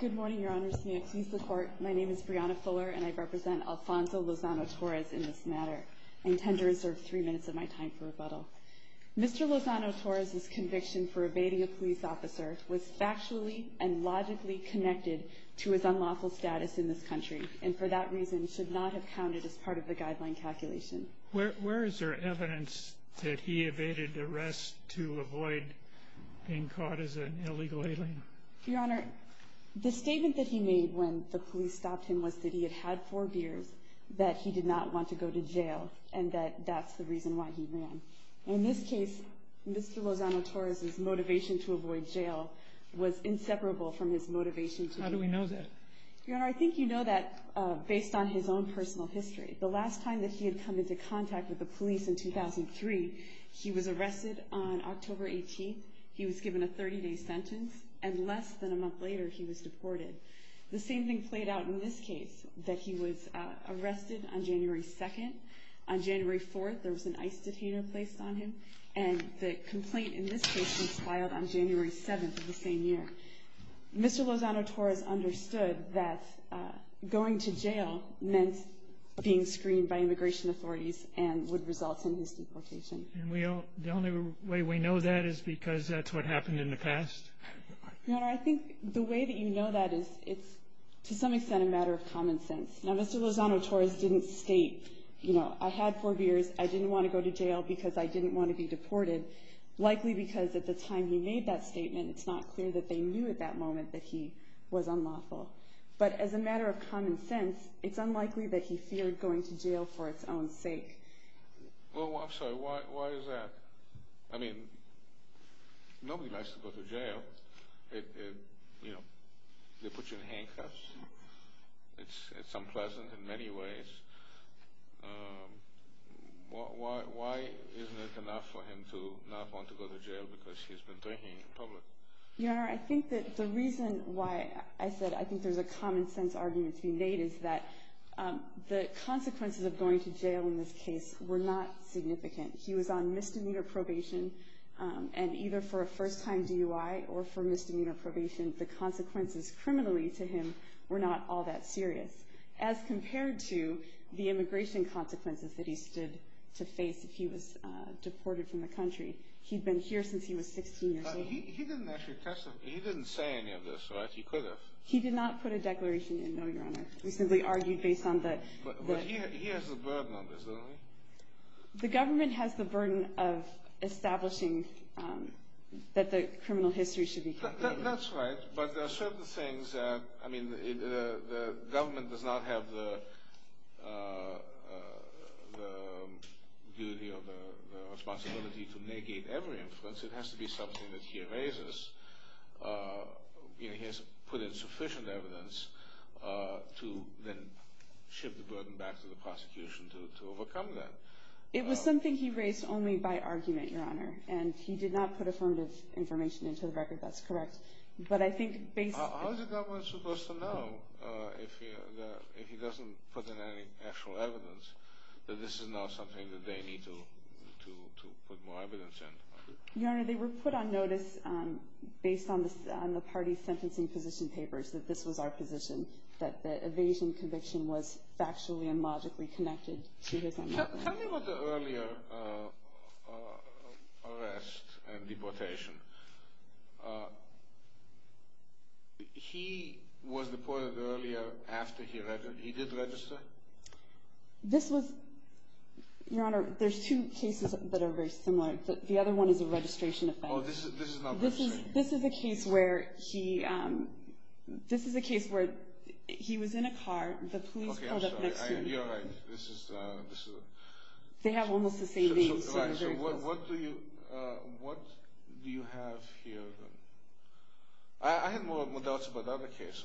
Good morning, Your Honors. May it please the Court, my name is Brianna Fuller and I represent Alfonso Lozano-Torres in this matter. I intend to reserve three minutes of my time for rebuttal. Mr. Lozano-Torres' conviction for evading a police officer was factually and logically connected to his unlawful status in this country, and for that reason should not have counted as part of the guideline calculation. Where is there evidence that he evaded arrest to avoid being caught as an illegal alien? Your Honor, the statement that he made when the police stopped him was that he had had four beers, that he did not want to go to jail, and that that's the reason why he ran. In this case, Mr. Lozano-Torres' motivation to avoid jail was inseparable from his motivation to evade. How do we know that? Your Honor, I think you know that based on his own personal history. The last time that he had come into contact with the police in 2003, he was arrested on October 18th. He was given a 30-day sentence, and less than a month later, he was deported. The same thing played out in this case, that he was arrested on January 2nd. On January 4th, there was an ICE detainer placed on him, and the complaint in this case was filed on January 7th of the same year. Mr. Lozano-Torres understood that going to jail meant being screened by immigration authorities and would result in his deportation. And the only way we know that is because that's what happened in the past? Your Honor, I think the way that you know that is it's, to some extent, a matter of common sense. Now, Mr. Lozano-Torres didn't state, you know, I had four beers, I didn't want to go to jail because I didn't want to be deported, likely because at the time he made that statement, it's not clear that they knew at that moment that he was unlawful. But as a matter of common sense, it's unlikely that he feared going to jail for its own sake. Well, I'm sorry, why is that? I mean, nobody likes to go to jail. You know, they put you in handcuffs. It's unpleasant in many ways. Why isn't it enough for him to not want to go to jail because he's been drinking in public? Your Honor, I think that the reason why I said I think there's a common sense argument to be made is that the consequences of going to jail in this case were not significant. He was on misdemeanor probation, and either for a first-time DUI or for misdemeanor probation, the consequences criminally to him were not all that serious, as compared to the immigration consequences that he stood to face if he was deported from the country. He'd been here since he was 16 years old. He didn't actually testify. He didn't say any of this, right? He could have. He did not put a declaration in, though, Your Honor. We simply argued based on the But he has a burden on this, doesn't he? The government has the burden of establishing that the criminal history should be contained. That's right, but there are certain things that, I mean, the government does not have the duty or the responsibility to negate every influence. It has to be something that he erases. He has put in sufficient evidence to then shift the burden back to the prosecution to overcome that. It was something he raised only by argument, Your Honor, and he did not put affirmative information into the record. That's correct, but I think basically How is the government supposed to know if he doesn't put in any actual evidence that this is not something that they need to put more evidence in? Your Honor, they were put on notice based on the party's sentencing position papers that this was our position, that the evasion conviction was factually and logically connected to his... Tell me about the earlier arrest and deportation. He was deported earlier after he did register? This was, Your Honor, there's two cases that are very similar. The other one is a registration offense. Oh, this is not registration. This is a case where he was in a car, the police pulled up next to him. Okay, I'm sorry, you're right. They have almost the same name, so they're very close. What do you have here then? I had more doubts about the other case.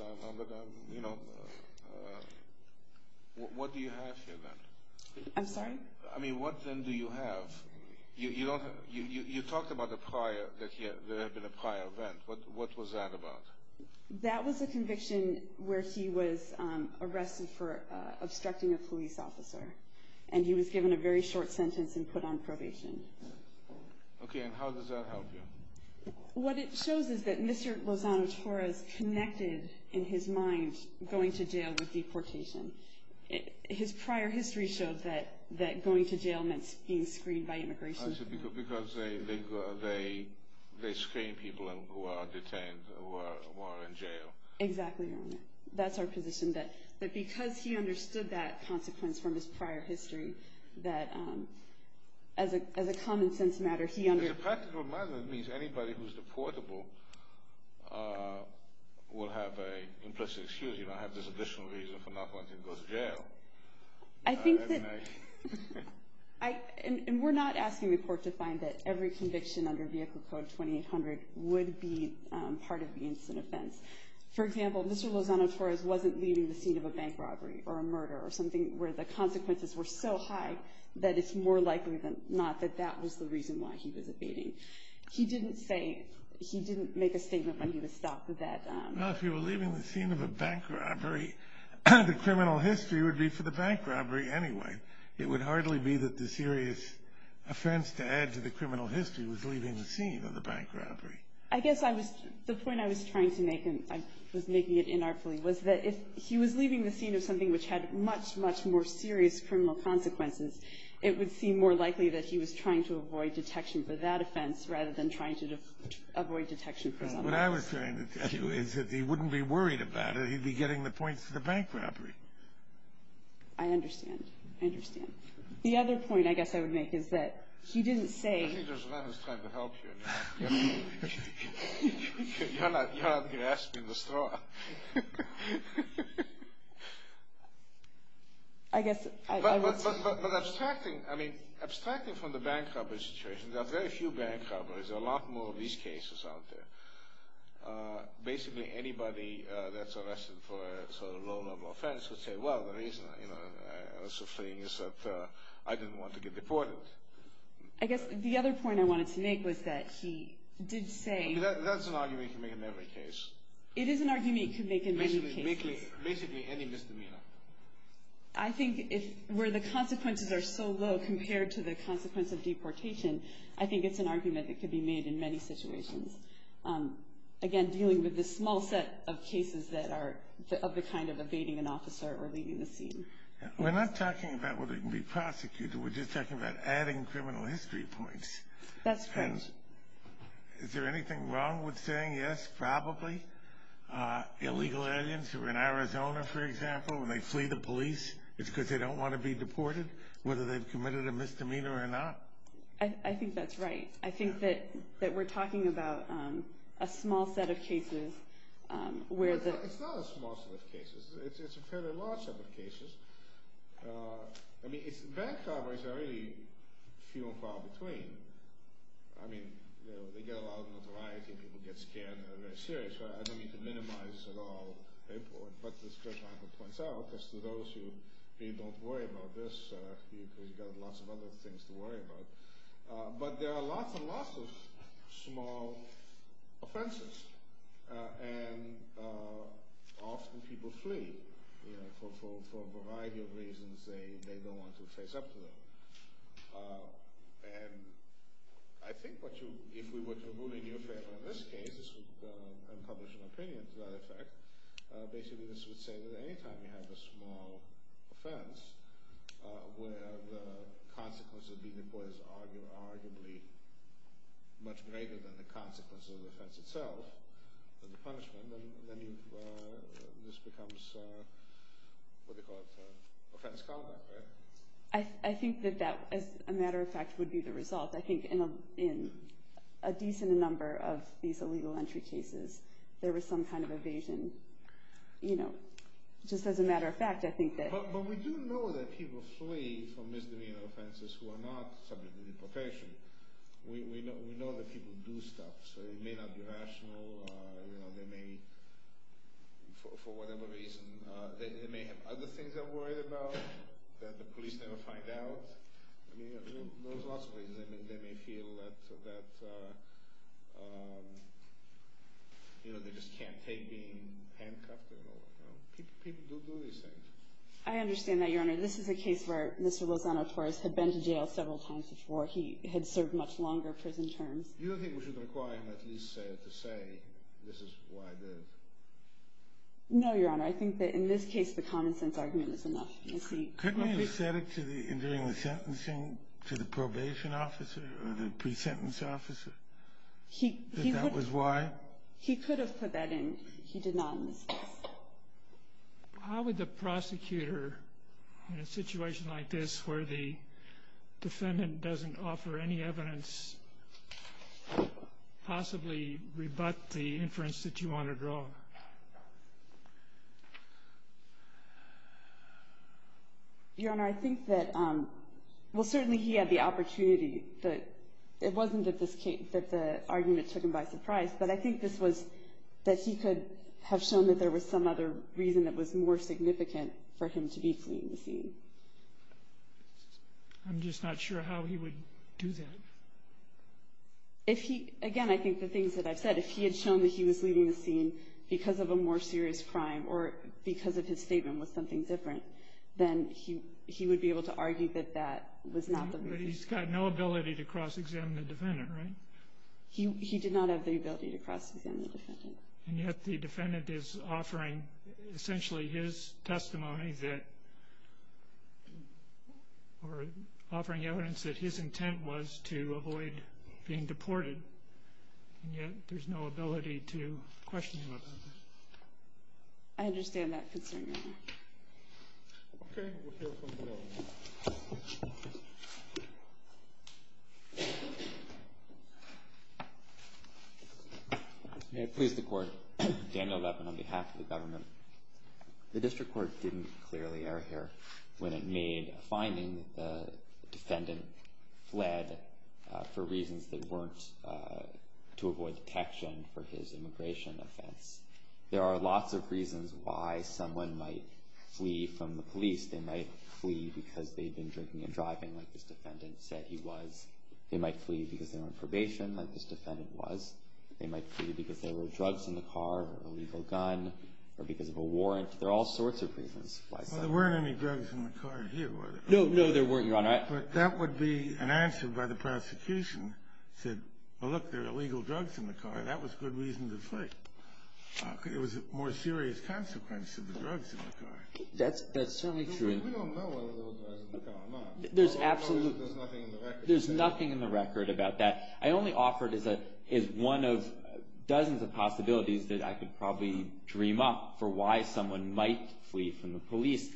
What do you have here then? I'm sorry? I mean, what then do you have? You talked about the prior, that there had been a prior event. What was that about? That was a conviction where he was arrested for obstructing a police officer, and he was given a very short sentence and put on probation. Okay, and how does that help you? What it shows is that Mr. Lozano-Torres connected in his mind going to jail with deportation. His prior history showed that going to jail meant being screened by immigration. Because they screen people who are detained, who are in jail. Exactly, Your Honor. That's our position, that because he understood that consequence from his prior history, that as a common sense matter, he understood. As a practical matter, that means anybody who's deportable will have an implicit excuse, you know, I have this additional reason for not wanting to go to jail. I think that, and we're not asking the court to find that every conviction under Vehicle Code 2800 would be part of the incident offense. For example, Mr. Lozano-Torres wasn't leaving the scene of a bank robbery or a murder or something where the consequences were so high that it's more likely than not that that was the reason why he was evading. He didn't say, he didn't make a statement when he was stopped with that. Well, if you were leaving the scene of a bank robbery, the criminal history would be for the bank robbery anyway. It would hardly be that the serious offense to add to the criminal history that he was leaving the scene of the bank robbery. I guess I was, the point I was trying to make, and I was making it inartfully, was that if he was leaving the scene of something which had much, much more serious criminal consequences, it would seem more likely that he was trying to avoid detection for that offense rather than trying to avoid detection for some other offense. What I was trying to tell you is that he wouldn't be worried about it. He'd be getting the points for the bank robbery. I understand. I understand. The other point I guess I would make is that he didn't say I think there's a man who's trying to help you. You're not grasping the straw. I guess I would say But abstracting, I mean, abstracting from the bank robbery situation, there are very few bank robberies. There are a lot more of these cases out there. Basically anybody that's arrested for a sort of low-level offense would say, well, the reason I was fleeing is that I didn't want to get deported. I guess the other point I wanted to make was that he did say That's an argument you can make in every case. It is an argument you can make in many cases. Basically any misdemeanor. I think where the consequences are so low compared to the consequence of deportation, I think it's an argument that could be made in many situations. Again, dealing with this small set of cases that are of the kind of evading an officer or leaving the scene. We're not talking about whether he can be prosecuted. We're just talking about adding criminal history points. That's right. Is there anything wrong with saying yes, probably, illegal aliens who are in Arizona, for example, when they flee the police, it's because they don't want to be deported, whether they've committed a misdemeanor or not? I think that's right. I think that we're talking about a small set of cases where the It's not a small set of cases. It's a fairly large set of cases. I mean, bank robberies are really few and far between. I mean, they get a lot of notoriety. People get scared. They're very serious. I don't mean to minimize at all the importance. But as Judge Michael points out, as to those who don't worry about this, you've got lots of other things to worry about. But there are lots and lots of small offenses. And often people flee for a variety of reasons. They don't want to face up to them. And I think if we were to rule in your favor in this case, this would unpublish an opinion to that effect. Basically, this would say that any time you have a small offense where the consequence of being deported is arguably much greater than the consequence of the offense itself, than the punishment, then this becomes what they call an offense callback, right? I think that that, as a matter of fact, would be the result. I think in a decent number of these illegal entry cases, there was some kind of evasion. You know, just as a matter of fact, I think that But we do know that people flee from misdemeanor offenses who are not subject to deportation. We know that people do stuff. So it may not be rational. You know, they may, for whatever reason, they may have other things they're worried about that the police never find out. I mean, there's lots of reasons. I mean, they may feel that, you know, they just can't take being handcuffed. You know, people do these things. I understand that, Your Honor. This is a case where Mr. Lozano, of course, had been to jail several times before. He had served much longer prison terms. Do you think we should require him at least to say, this is why I did it? No, Your Honor. I think that in this case, the common sense argument is enough. Couldn't he have said it during the sentencing to the probation officer or the pre-sentence officer? That that was why? He could have put that in. He did not in this case. How would the prosecutor, in a situation like this where the defendant doesn't offer any evidence, possibly rebut the inference that you want to draw? Your Honor, I think that, well, certainly he had the opportunity. It wasn't that the argument took him by surprise, but I think this was that he could have shown that there was some other reason that was more significant for him to be fleeing the scene. I'm just not sure how he would do that. Again, I think the things that I've said, if he had shown that he was leaving the scene because of a more serious crime or because of his statement was something different, then he would be able to argue that that was not the reason. But he's got no ability to cross-examine the defendant, right? He did not have the ability to cross-examine the defendant. And yet the defendant is offering essentially his testimony that, or offering evidence that his intent was to avoid being deported, and yet there's no ability to question him about that. I understand that concern, Your Honor. Okay, we'll hear from the panel. May I please the Court? Daniel Levin on behalf of the government. The district court didn't clearly err here when it made a finding that the defendant fled for reasons that weren't to avoid detection for his immigration offense. There are lots of reasons why someone might flee from the police. They might flee because they'd been drinking and driving, like this defendant said he was. They might flee because they were on probation, like this defendant was. They might flee because there were drugs in the car, an illegal gun, or because of a warrant. There are all sorts of reasons why someone would flee. Well, there weren't any drugs in the car here, were there? No, no, there weren't, Your Honor. But that would be an answer by the prosecution, said, well, look, there are illegal drugs in the car. That was good reason to flee. It was a more serious consequence of the drugs in the car. That's certainly true. We don't know whether there were drugs in the car or not. There's nothing in the record about that. I only offer it as one of dozens of possibilities that I could probably dream up for why someone might flee from the police.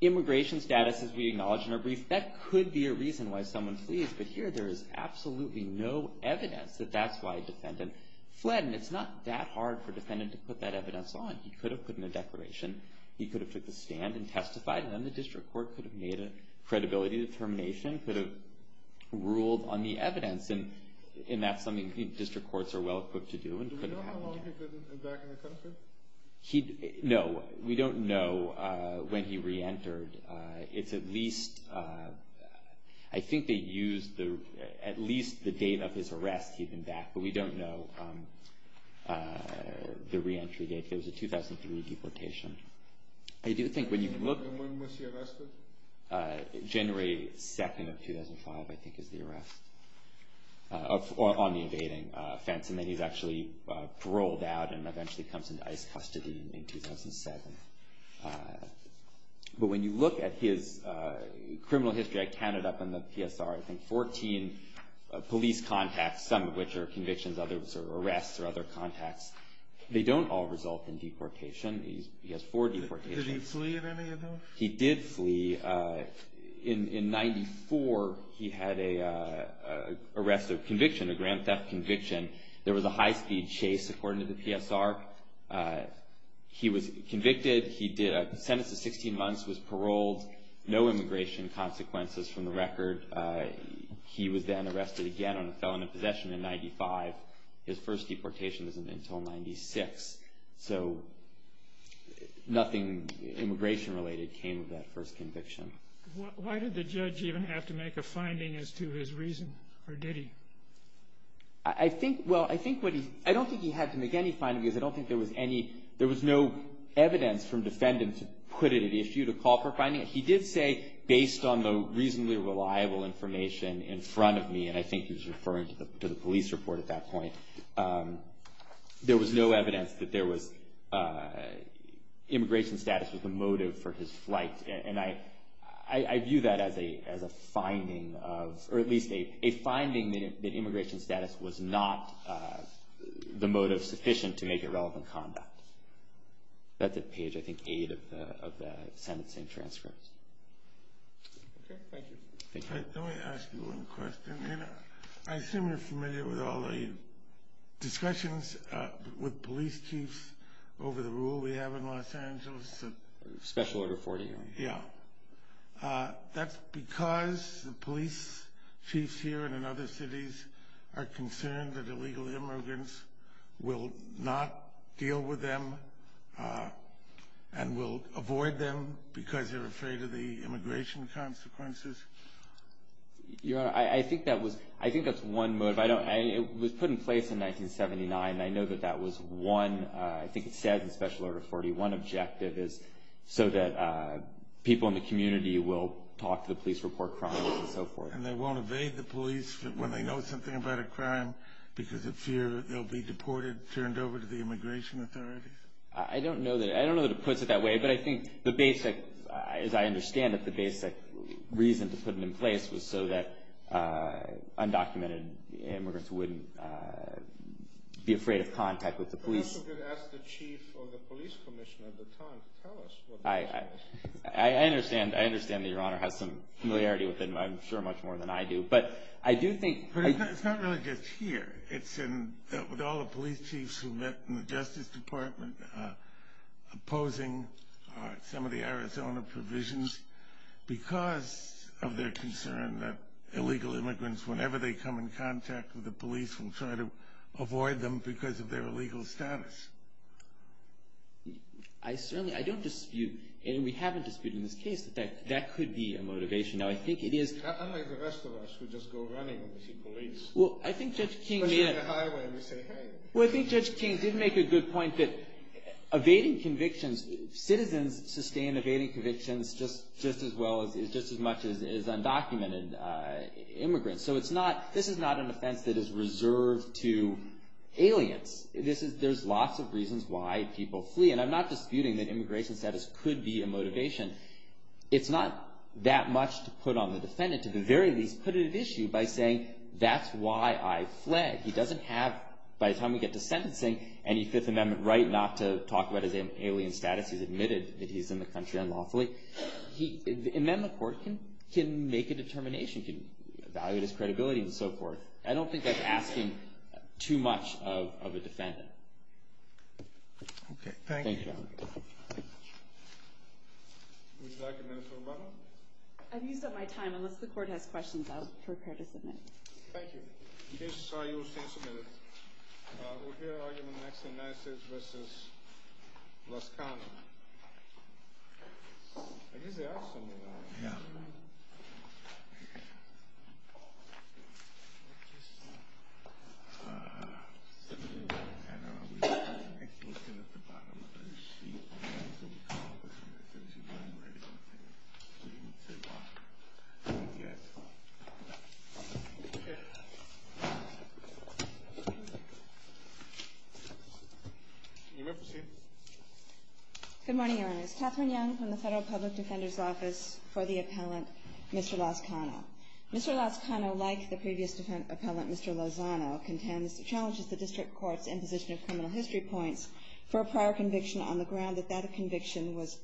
Immigration status, as we acknowledged in our brief, that could be a reason why someone flees. But here, there is absolutely no evidence that that's why a defendant fled. And it's not that hard for a defendant to put that evidence on. He could have put in a declaration. He could have took the stand and testified. And then the district court could have made a credibility determination, could have ruled on the evidence. And that's something district courts are well-equipped to do and could have happened. Do we know how long he could have been back in the country? No, we don't know when he reentered. It's at least, I think they used at least the date of his arrest he'd been back. But we don't know the reentry date. There was a 2003 deportation. I do think when you look, January 2nd of 2005, I think, is the arrest. Or on the evading fence. And then he's actually rolled out and eventually comes into ICE custody in 2007. But when you look at his criminal history, I counted up in the PSR, I think, 14 police contacts, some of which are convictions, others are arrests or other contacts. They don't all result in deportation. He has four deportations. Did he flee in any of them? He did flee. In 94, he had an arrest of conviction, a grand theft conviction. There was a high-speed chase, according to the PSR. He was convicted. He did a sentence of 16 months, was paroled. No immigration consequences from the record. He was then arrested again on a felon in possession in 95. His first deportation wasn't until 96. So nothing immigration-related came of that first conviction. Why did the judge even have to make a finding as to his reason? Or did he? I think, well, I think what he, I don't think he had to make any finding because I don't think there was any, there was no evidence from defendants to put it at issue, to call for a finding. He did say, based on the reasonably reliable information in front of me, and I think he was referring to the police report at that point, there was no evidence that there was immigration status was the motive for his flight. And I view that as a finding of, or at least a finding that immigration status was not the motive sufficient to make irrelevant conduct. That's at page, I think, 8 of the sentencing transcripts. Okay, thank you. Let me ask you one question. I assume you're familiar with all the discussions with police chiefs over the rule we have in Los Angeles. Special Order 41. Yeah. That's because the police chiefs here and in other cities are concerned that illegal immigrants will not deal with them and will avoid them because they're afraid of the immigration consequences? Your Honor, I think that was, I think that's one motive. It was put in place in 1979, and I know that that was one, I think it says in Special Order 41, objective is so that people in the community will talk to the police, report crime, and so forth. And they won't evade the police when they know something about a crime because of fear that they'll be deported, turned over to the immigration authorities? I don't know that it puts it that way, but I think the basic, as I understand it, the basic reason to put it in place was so that undocumented immigrants wouldn't be afraid of contact with the police. You could ask the chief or the police commissioner at the time to tell us what that was. I understand that Your Honor has some familiarity with it, I'm sure much more than I do. But I do think... It's not really just here. It's with all the police chiefs who met in the Justice Department opposing some of the Arizona provisions because of their concern that illegal immigrants, whenever they come in contact with the police, will try to avoid them because of their illegal status. I certainly, I don't dispute, and we haven't disputed in this case, that that could be a motivation. Now I think it is... Unlike the rest of us who just go running when we see police. Well, I think Judge King made a... Or drive down the highway and just say, hey. Well, I think Judge King did make a good point that evading convictions, citizens sustain evading convictions just as much as undocumented immigrants. So it's not... This is not an offense that is reserved to aliens. There's lots of reasons why people flee. And I'm not disputing that immigration status could be a motivation. It's not that much to put on the defendant. To the very least, put it at issue by saying, that's why I fled. He doesn't have, by the time we get to sentencing, any Fifth Amendment right not to talk about his alien status. He's admitted that he's in the country unlawfully. The amendment court can make a determination. It can evaluate his credibility and so forth. I don't think that's asking too much of a defendant. Okay, thank you. Thank you, Your Honor. Would you like a minute, Mr. Romano? I've used up my time. Unless the court has questions, I'll prepare to submit. Thank you. In case you're sorry, you will stay a minute. Thank you, Your Honor. We're here arguing Maxine Nassage v. Los Canos. I guess they are similar. Yeah. Good morning, Your Honors. This is Catherine Young from the Federal Public Defender's Office for the appellant, Mr. Los Cano. Mr. Los Cano, like the previous defendant, Mr. Lozano, contends, challenges the district court's imposition of criminal history points for a prior conviction on the ground that that conviction was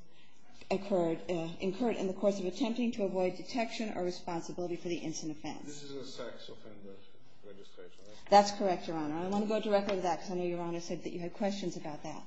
incurred in the course of attempting to avoid detection or responsibility for the instant offense. This is a sex offender registration. That's correct, Your Honor. I want to go directly to that because I know Your Honor said that you had questions about that.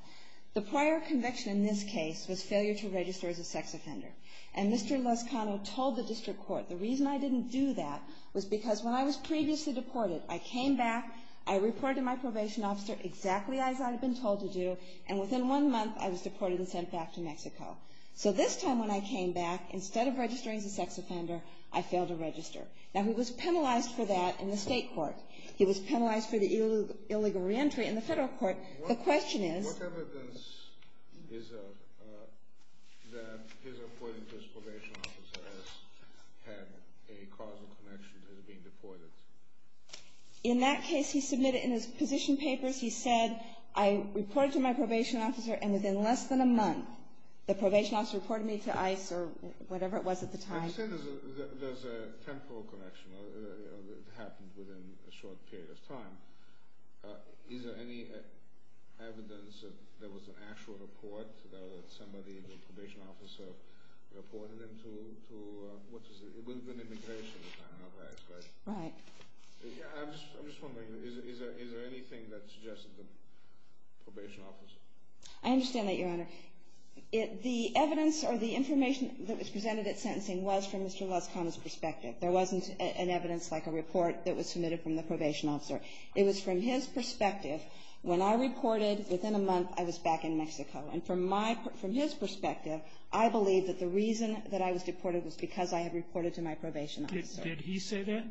The prior conviction in this case was failure to register as a sex offender. And Mr. Los Cano told the district court the reason I didn't do that was because when I was previously deported, I came back, I reported to my probation officer exactly as I had been told to do, and within one month I was deported and sent back to Mexico. So this time when I came back, instead of registering as a sex offender, I failed to register. Now, he was penalized for that in the state court. He was penalized for the illegal reentry in the federal court. The question is? What evidence is there that his reporting to his probation officer has had a causal connection to his being deported? In that case, he submitted in his position papers, he said, I reported to my probation officer and within less than a month the probation officer reported me to ICE or whatever it was at the time. You said there's a temporal connection. It happened within a short period of time. Is there any evidence that there was an actual report that somebody, the probation officer, reported him to? It would have been immigration at the time, not ICE, right? Right. I'm just wondering, is there anything that suggested the probation officer? I understand that, Your Honor. The evidence or the information that was presented at sentencing was from Mr. Lascana's perspective. There wasn't an evidence like a report that was submitted from the probation officer. It was from his perspective. When I reported within a month, I was back in Mexico. And from his perspective, I believe that the reason that I was deported was because I had reported to my probation officer. Did he say that?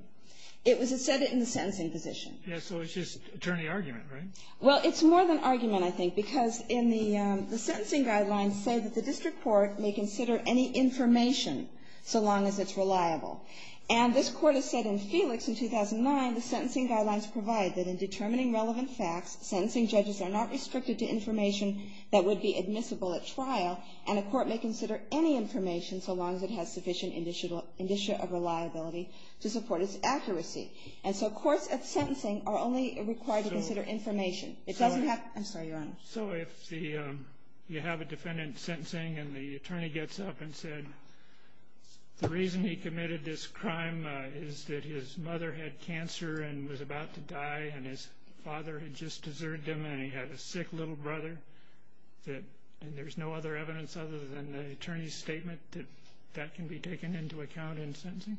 It said it in the sentencing position. So it's just attorney argument, right? Well, it's more than argument, I think, because the sentencing guidelines say that the district court may consider any information so long as it's reliable. And this Court has said in Felix in 2009, the sentencing guidelines provide that in determining relevant facts, sentencing judges are not restricted to information that would be admissible at trial, and a court may consider any information so long as it has sufficient indicia of reliability to support its accuracy. And so courts at sentencing are only required to consider information. It doesn't have to be. I'm sorry, Your Honor. So if you have a defendant sentencing and the attorney gets up and said, the reason he committed this crime is that his mother had cancer and was about to die and his father had just deserted him and he had a sick little brother, and there's no other evidence other than the attorney's statement that that can be taken into account in sentencing?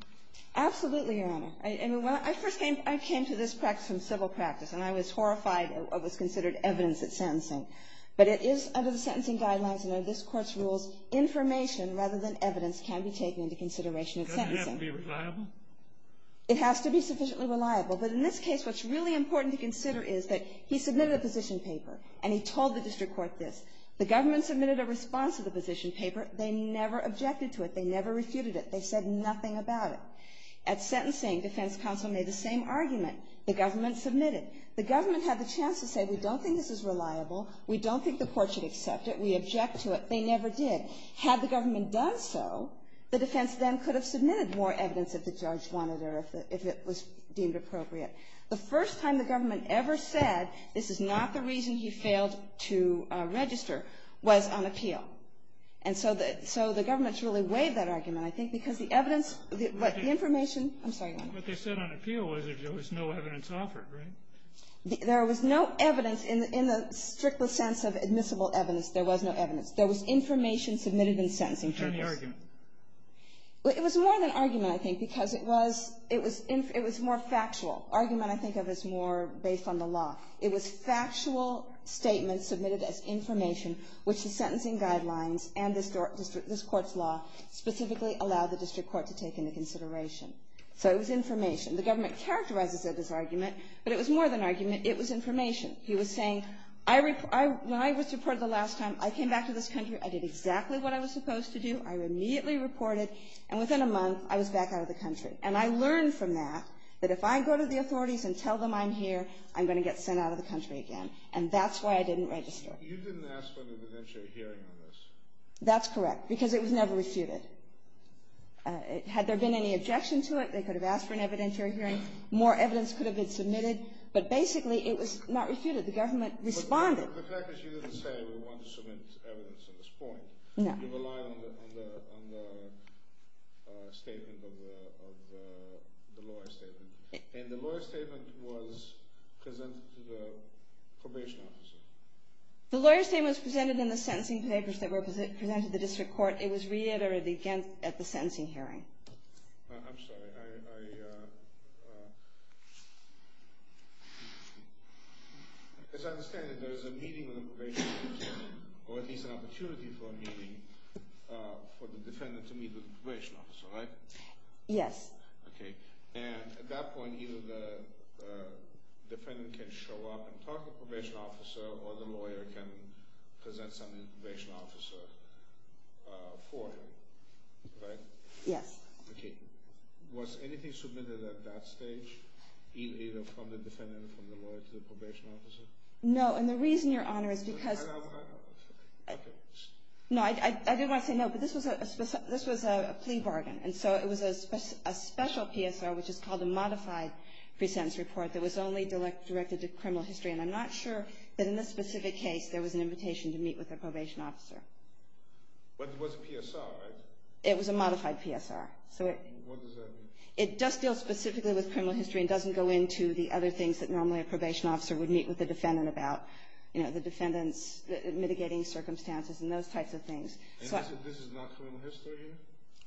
Absolutely, Your Honor. I mean, I first came to this practice from civil practice, and I was horrified of what was considered evidence at sentencing. But it is under the sentencing guidelines and under this Court's rules, information rather than evidence can be taken into consideration at sentencing. Doesn't it have to be reliable? It has to be sufficiently reliable. But in this case, what's really important to consider is that he submitted a position paper, and he told the district court this. The government submitted a response to the position paper. They never objected to it. They never refuted it. They said nothing about it. At sentencing, defense counsel made the same argument. The government submitted. The government had the chance to say, we don't think this is reliable. We don't think the court should accept it. We object to it. They never did. Had the government done so, the defense then could have submitted more evidence if the judge wanted or if it was deemed appropriate. The first time the government ever said, this is not the reason he failed to register, was on appeal. And so the government really waived that argument, I think, because the evidence, the information. I'm sorry. What they said on appeal was there was no evidence offered, right? There was no evidence in the strictest sense of admissible evidence. There was no evidence. There was information submitted in sentencing. Any argument? It was more than argument, I think, because it was more factual. Argument, I think, is more based on the law. It was factual statements submitted as information, which the sentencing guidelines and this court's law specifically allow the district court to take into consideration. So it was information. The government characterizes it as argument, but it was more than argument. It was information. He was saying, when I was reported the last time, I came back to this country. I did exactly what I was supposed to do. I immediately reported. And within a month, I was back out of the country. And I learned from that that if I go to the authorities and tell them I'm here, I'm going to get sent out of the country again. And that's why I didn't register. You didn't ask for an evidentiary hearing on this. That's correct, because it was never refuted. Had there been any objection to it, they could have asked for an evidentiary hearing. More evidence could have been submitted. But basically, it was not refuted. The government responded. But the fact is you didn't say we wanted to submit evidence at this point. No. You relied on the statement of the lawyer's statement. And the lawyer's statement was presented to the probation officer. The lawyer's statement was presented in the sentencing papers that were presented to the district court. It was reiterated at the sentencing hearing. I'm sorry. As I understand it, there is a meeting with the probation officer, or at least an opportunity for a meeting for the defendant to meet with the probation officer, right? Yes. Okay. And at that point, either the defendant can show up and talk to the probation officer or the lawyer can present some information to the officer for him, right? Yes. Okay. Was anything submitted at that stage, either from the defendant or from the lawyer to the probation officer? No. And the reason, Your Honor, is because— I know, I know. Okay. No, I didn't want to say no, but this was a plea bargain. And so it was a special PSR, which is called a modified pre-sentence report, that was only directed to criminal history. And I'm not sure that in this specific case there was an invitation to meet with the probation officer. But it was a PSR, right? It was a modified PSR. What does that mean? It does deal specifically with criminal history and doesn't go into the other things that normally a probation officer would meet with the defendant about, you know, the defendant's mitigating circumstances and those types of things. And this is not criminal history?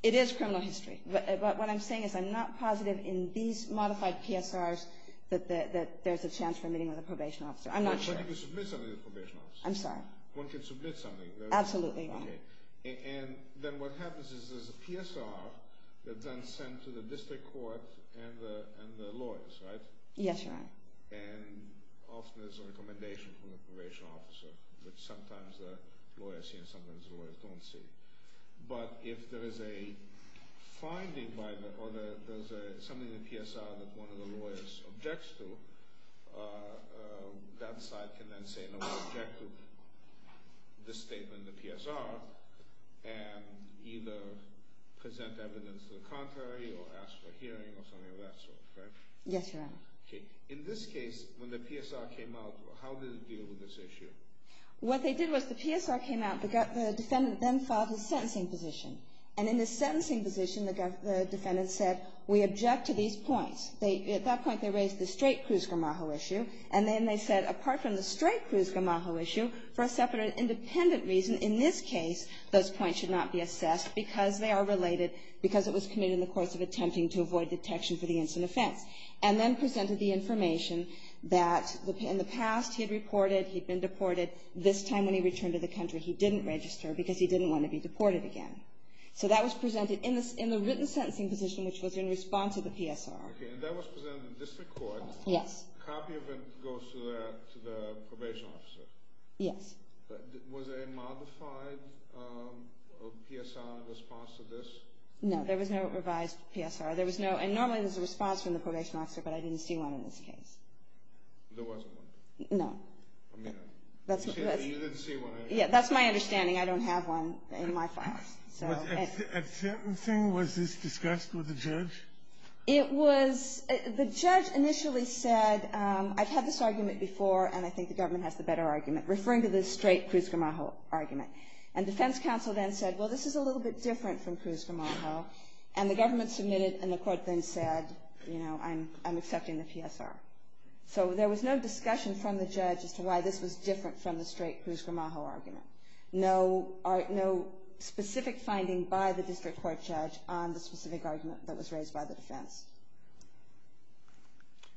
It is criminal history. But what I'm saying is I'm not positive in these modified PSRs that there's a chance for a meeting with a probation officer. I'm not sure. But you can submit something to the probation officer. I'm sorry? One can submit something. Absolutely. Okay. And then what happens is there's a PSR that's then sent to the district court and the lawyers, right? Yes, Your Honor. And often there's a recommendation from the probation officer, which sometimes the lawyers see and sometimes the lawyers don't see. But if there is a finding by the—or there's something in the PSR that one of the lawyers objects to, that side can then say, no, I object to this statement in the PSR and either present evidence to the contrary or ask for hearing or something of that sort, correct? Yes, Your Honor. Okay. In this case, when the PSR came out, how did it deal with this issue? What they did was the PSR came out. The defendant then filed his sentencing position. And in his sentencing position, the defendant said, we object to these points. At that point, they raised the straight Cruz-Gamajo issue. And then they said, apart from the straight Cruz-Gamajo issue, for a separate independent reason, in this case, those points should not be assessed because they are related, because it was committed in the course of attempting to avoid detection for the instant offense. And then presented the information that in the past he had reported he'd been deported. This time when he returned to the country, he didn't register because he didn't want to be deported again. So that was presented in the written sentencing position, which was in response to the PSR. Okay. And that was presented in the district court. Yes. A copy of it goes to the probation officer. Yes. Was there a modified PSR in response to this? No. There was no revised PSR. There was no, and normally there's a response from the probation officer, but I didn't see one in this case. There wasn't one? No. I mean, you didn't see one. Yeah. That's my understanding. I don't have one in my files. A certain thing, was this discussed with the judge? It was. The judge initially said, I've had this argument before, and I think the government has the better argument, referring to the straight Cruz-Gramajo argument. And defense counsel then said, well, this is a little bit different from Cruz-Gramajo. And the government submitted, and the court then said, you know, I'm accepting the PSR. So there was no discussion from the judge as to why this was different from the straight Cruz-Gramajo argument. No specific finding by the district court judge on the specific argument that was raised by the defense.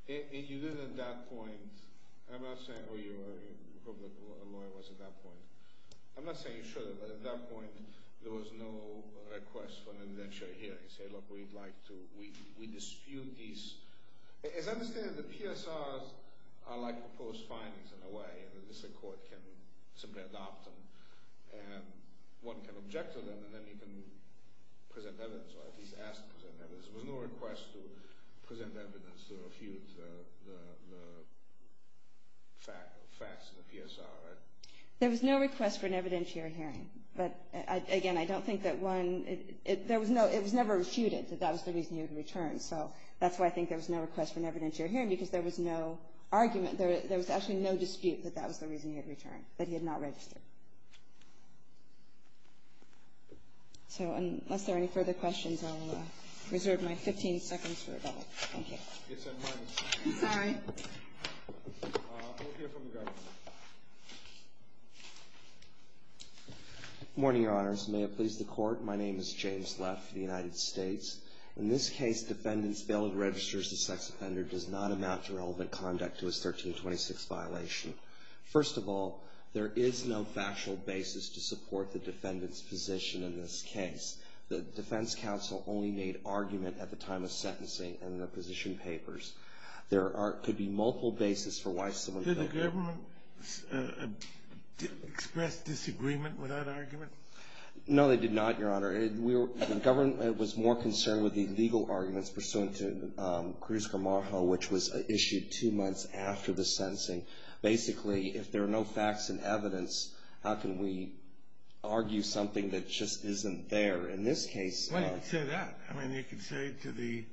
And you did at that point, I'm not saying, oh, you were a public lawyer at that point. I'm not saying you should have, but at that point there was no request for an indenture hearing. Say, look, we'd like to, we dispute these. As I understand it, the PSRs are like proposed findings in a way, and the district court can simply adopt them. And one can object to them, and then you can present evidence, or at least ask to present evidence. There was no request to present evidence to refute the facts in the PSR, right? There was no request for an evidentiary hearing. But, again, I don't think that one, there was no, it was never refuted that that was the reason he would return. So that's why I think there was no request for an evidentiary hearing, because there was no argument. There was actually no dispute that that was the reason he had returned, that he had not registered. So unless there are any further questions, I'll reserve my 15 seconds for rebuttal. Thank you. I'm sorry. We'll hear from the government. Good morning, Your Honors. May it please the Court. My name is James Leff of the United States. In this case, defendants failed to register as a sex offender does not amount to relevant conduct to his 1326 violation. First of all, there is no factual basis to support the defendant's position in this case. The defense counsel only made argument at the time of sentencing in the position papers. There could be multiple basis for why someone could. Did the government express disagreement with that argument? No, they did not, Your Honor. The government was more concerned with the legal arguments pursuant to Cruz-Gamarjo, which was issued two months after the sentencing. Basically, if there are no facts and evidence, how can we argue something that just isn't there? In this case… Well, you could say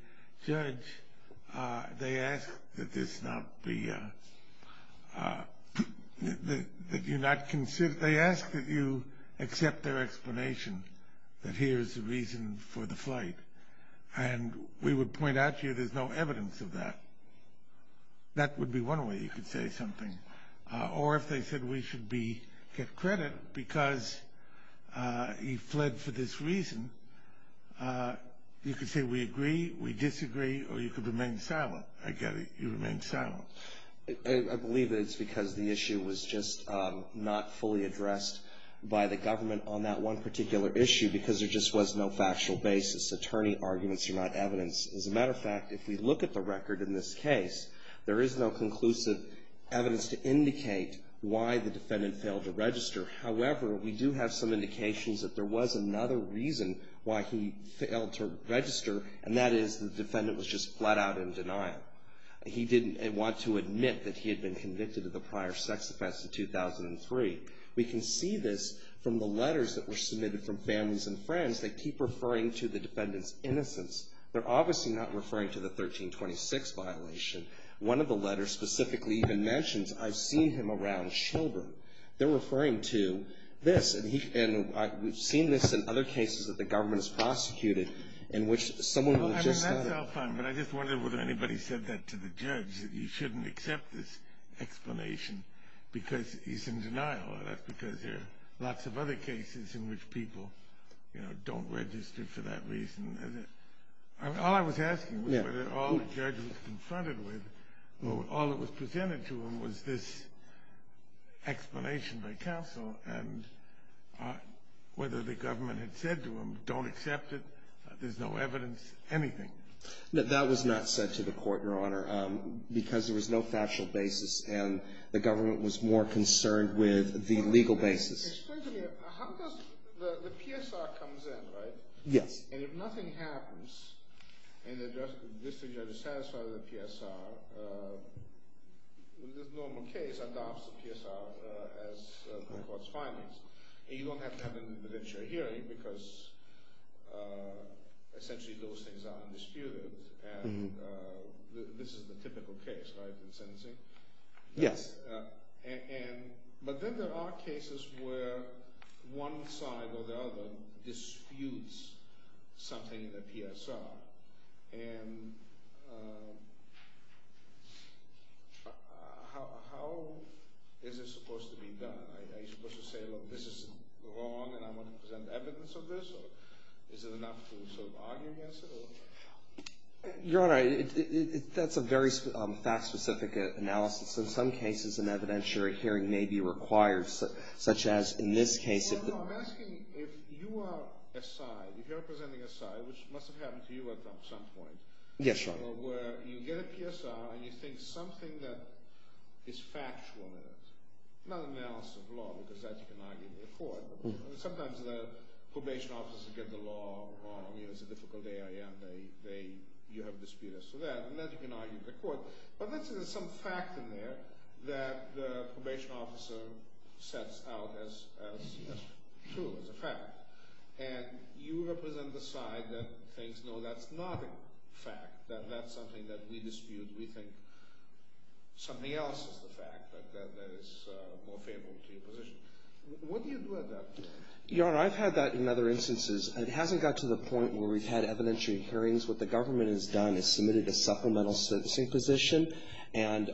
that. They ask that you accept their explanation that here is the reason for the flight, and we would point out to you there's no evidence of that. That would be one way you could say something. Or if they said we should get credit because he fled for this reason, you could say we agree, we disagree, or you could remain silent. I get it. You remain silent. I believe that it's because the issue was just not fully addressed by the government on that one particular issue because there just was no factual basis. Attorney arguments are not evidence. As a matter of fact, if we look at the record in this case, there is no conclusive evidence to indicate why the defendant failed to register. However, we do have some indications that there was another reason why he failed to register, and that is the defendant was just flat out in denial. He didn't want to admit that he had been convicted of a prior sex offense in 2003. We can see this from the letters that were submitted from families and friends. They keep referring to the defendant's innocence. They're obviously not referring to the 1326 violation. One of the letters specifically even mentions, I've seen him around children. They're referring to this. And we've seen this in other cases that the government has prosecuted in which someone was just not. I mean, that's all fine, but I just wondered whether anybody said that to the judge, that you shouldn't accept this explanation because he's in denial. That's because there are lots of other cases in which people, you know, don't register for that reason. All I was asking was whether all the judge was confronted with or all that was presented to him was this explanation by counsel and whether the government had said to him don't accept it, there's no evidence, anything. No, that was not said to the court, Your Honor, because there was no factual basis, and the government was more concerned with the legal basis. Explain to me, how does the PSR comes in, right? Yes. And if nothing happens, and the district judge is satisfied with the PSR, the normal case adopts the PSR as the court's findings, and you don't have to have an interdictiary hearing because essentially those things are undisputed, and this is the typical case, right, in sentencing? Yes. But then there are cases where one side or the other disputes something in the PSR, and how is this supposed to be done? Are you supposed to say, look, this is wrong, and I want to present evidence of this, or is it enough to sort of argue against it? Your Honor, that's a very fact-specific analysis. In some cases, an evidentiary hearing may be required, such as in this case. Well, Your Honor, I'm asking if you are a side, if you're representing a side, which must have happened to you at some point. Yes, Your Honor. Where you get a PSR, and you think something that is factual in it, not analysis of law, because that you can argue with the court. Sometimes the probation officers get the law wrong. It's a difficult AIM. You have disputes with that, and that you can argue with the court. But let's say there's some fact in there that the probation officer sets out as true, as a fact, and you represent the side that thinks, no, that's not a fact, that that's something that we dispute. We think something else is the fact that is more favorable to your position. What do you do at that point? Your Honor, I've had that in other instances, and it hasn't got to the point where we've had evidentiary hearings. What the government has done is submitted a supplemental sentencing position, and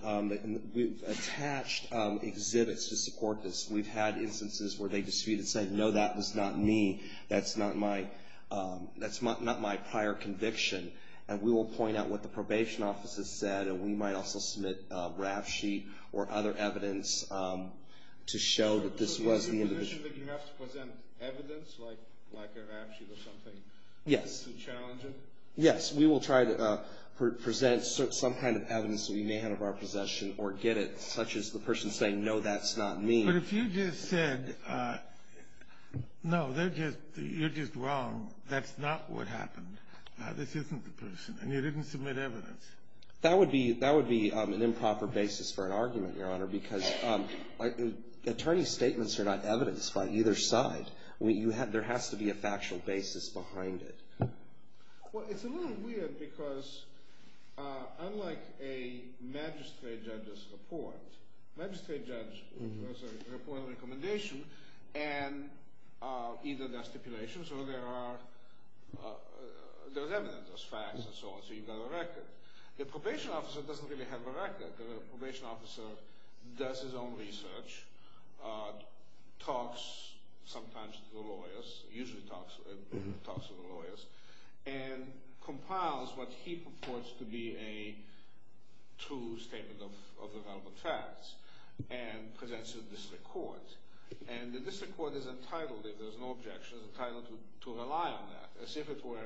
we've attached exhibits to support this. We've had instances where they dispute and say, no, that was not me. That's not my prior conviction. And we will point out what the probation officer said, and we might also submit a RAF sheet or other evidence to show that this was the individual. Is it the position that you have to present evidence, like a RAF sheet or something? Yes. To challenge it? Yes. We will try to present some kind of evidence that we may have in our possession or get it, such as the person saying, no, that's not me. But if you just said, no, you're just wrong, that's not what happened, this isn't the person, and you didn't submit evidence. That would be an improper basis for an argument, Your Honor, because attorney statements are not evidence by either side. There has to be a factual basis behind it. Well, it's a little weird because unlike a magistrate judge's report, a magistrate judge has a report of recommendation, and either there are stipulations or there is evidence, there's facts and so on, so you've got a record. The probation officer doesn't really have a record. The probation officer does his own research, talks sometimes to the lawyers, usually talks to the lawyers, and compiles what he purports to be a true statement of the relevant facts and presents it to the district court. And the district court is entitled, if there's no objection, is entitled to rely on that as if it were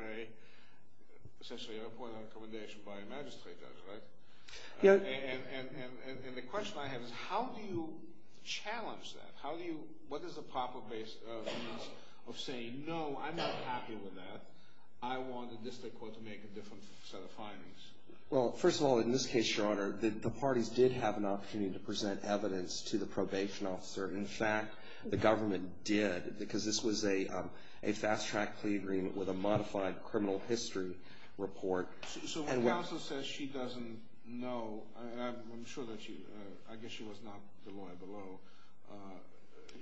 essentially a report of recommendation by a magistrate judge, right? And the question I have is how do you challenge that? What is the proper basis of saying, no, I'm not happy with that, I want the district court to make a different set of findings? Well, first of all, in this case, Your Honor, the parties did have an opportunity to present evidence to the probation officer. In fact, the government did because this was a fast-track plea agreement with a modified criminal history report. So when counsel says she doesn't know, I'm sure that she, I guess she was not the lawyer below,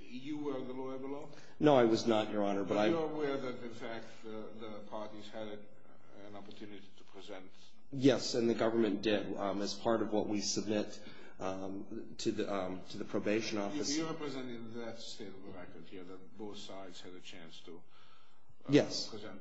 you were the lawyer below? No, I was not, Your Honor. But you're aware that, in fact, the parties had an opportunity to present? Yes, and the government did as part of what we submit to the probation officer. You're representing that state of the record here, that both sides had a chance to present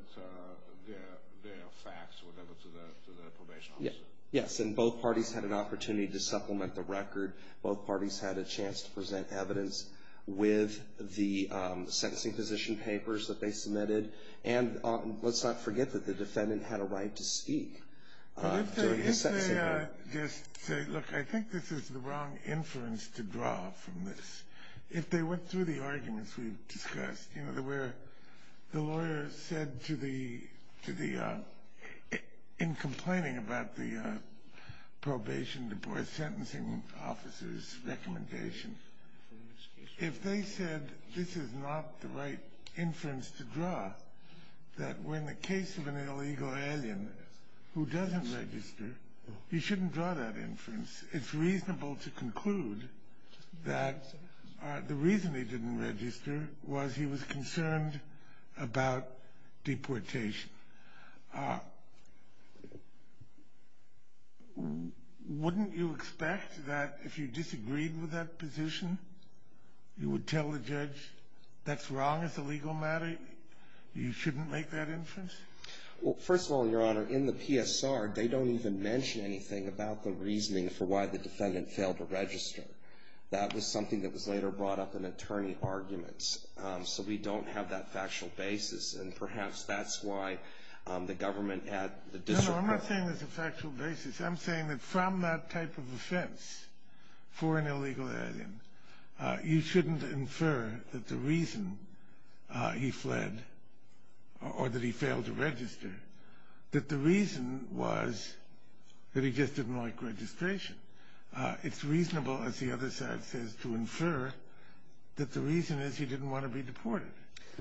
their facts when they went to the probation officer? Yes, and both parties had an opportunity to supplement the record. Both parties had a chance to present evidence with the sentencing position papers that they submitted. And let's not forget that the defendant had a right to speak during his sentencing. But if they just say, look, I think this is the wrong inference to draw from this. If they went through the arguments we've discussed, you know, where the lawyer said to the, in complaining about the probation divorce sentencing officer's recommendation, if they said this is not the right inference to draw, that when the case of an illegal alien who doesn't register, you shouldn't draw that inference, it's reasonable to conclude that the reason he didn't register was he was concerned about deportation. Wouldn't you expect that if you disagreed with that position, you would tell the judge that's wrong as a legal matter, you shouldn't make that inference? Well, first of all, Your Honor, in the PSR, they don't even mention anything about the reasoning for why the defendant failed to register. That was something that was later brought up in attorney arguments. So we don't have that factual basis. And perhaps that's why the government at the district court. No, no, I'm not saying there's a factual basis. I'm saying that from that type of offense for an illegal alien, you shouldn't infer that the reason he fled or that he failed to register, that the reason was that he just didn't like registration. It's reasonable, as the other side says, to infer that the reason is he didn't want to be deported.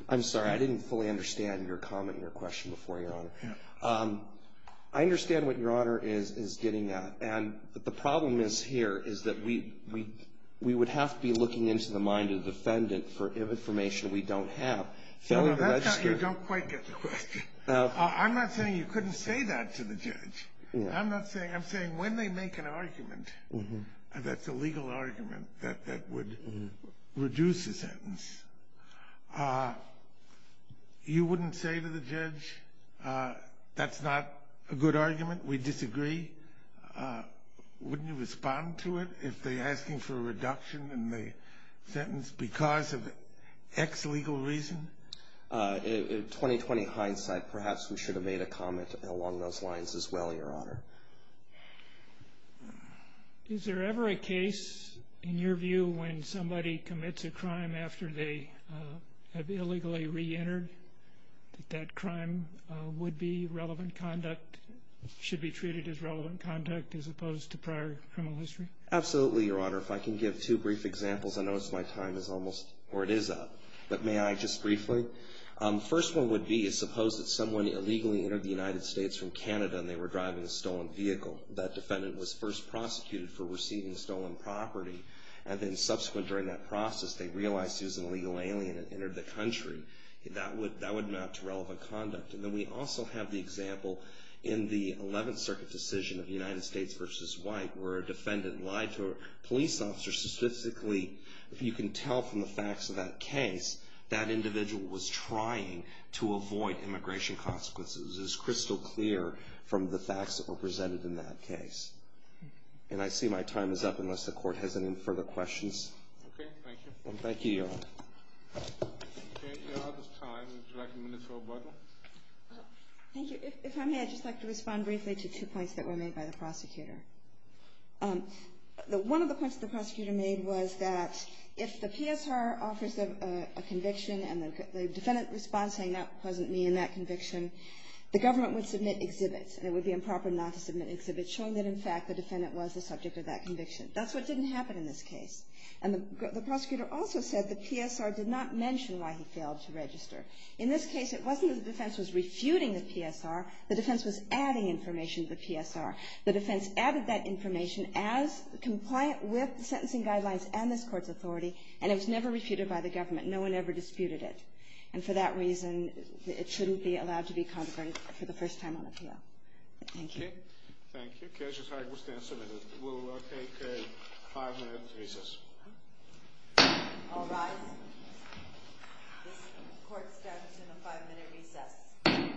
I'm sorry, I didn't fully understand your comment and your question before, Your Honor. I understand what Your Honor is getting at. And the problem is here is that we would have to be looking into the mind of the defendant for information we don't have. That's how you don't quite get the question. I'm not saying you couldn't say that to the judge. I'm saying when they make an argument that's a legal argument that would reduce the sentence, you wouldn't say to the judge that's not a good argument, we disagree. Wouldn't you respond to it if they're asking for a reduction in the sentence because of X legal reason? In 20-20 hindsight, perhaps we should have made a comment along those lines as well, Your Honor. Is there ever a case, in your view, when somebody commits a crime after they have illegally reentered, that that crime would be relevant conduct, should be treated as relevant conduct as opposed to prior criminal history? Absolutely, Your Honor. If I can give two brief examples, I notice my time is almost, or it is up. But may I just briefly? First one would be, suppose that someone illegally entered the United States from Canada and they were driving a stolen vehicle. That defendant was first prosecuted for receiving stolen property. And then subsequent during that process, they realized he was an illegal alien and entered the country. That would map to relevant conduct. And then we also have the example in the 11th Circuit decision of United States v. White, where a defendant lied to a police officer. Statistically, if you can tell from the facts of that case, that individual was trying to avoid immigration consequences. It was crystal clear from the facts that were presented in that case. And I see my time is up, unless the Court has any further questions. Okay, thank you. Thank you, Your Honor. We are out of time. Would you like a minute for rebuttal? Thank you. If I may, I'd just like to respond briefly to two points that were made by the prosecutor. One of the points the prosecutor made was that if the PSR offers a conviction and the defendant responds saying that wasn't me in that conviction, the government would submit exhibits. And it would be improper not to submit exhibits, showing that, in fact, the defendant was the subject of that conviction. That's what didn't happen in this case. And the prosecutor also said the PSR did not mention why he failed to register. In this case, it wasn't that the defense was refuting the PSR. The defense was adding information to the PSR. The defense added that information as compliant with the sentencing guidelines and this Court's authority, and it was never refuted by the government. No one ever disputed it. And for that reason, it shouldn't be allowed to be contemplated for the first time on appeal. Thank you. Thank you. The case is now submitted. We'll take a five-minute recess. All rise. This Court stands in a five-minute recess.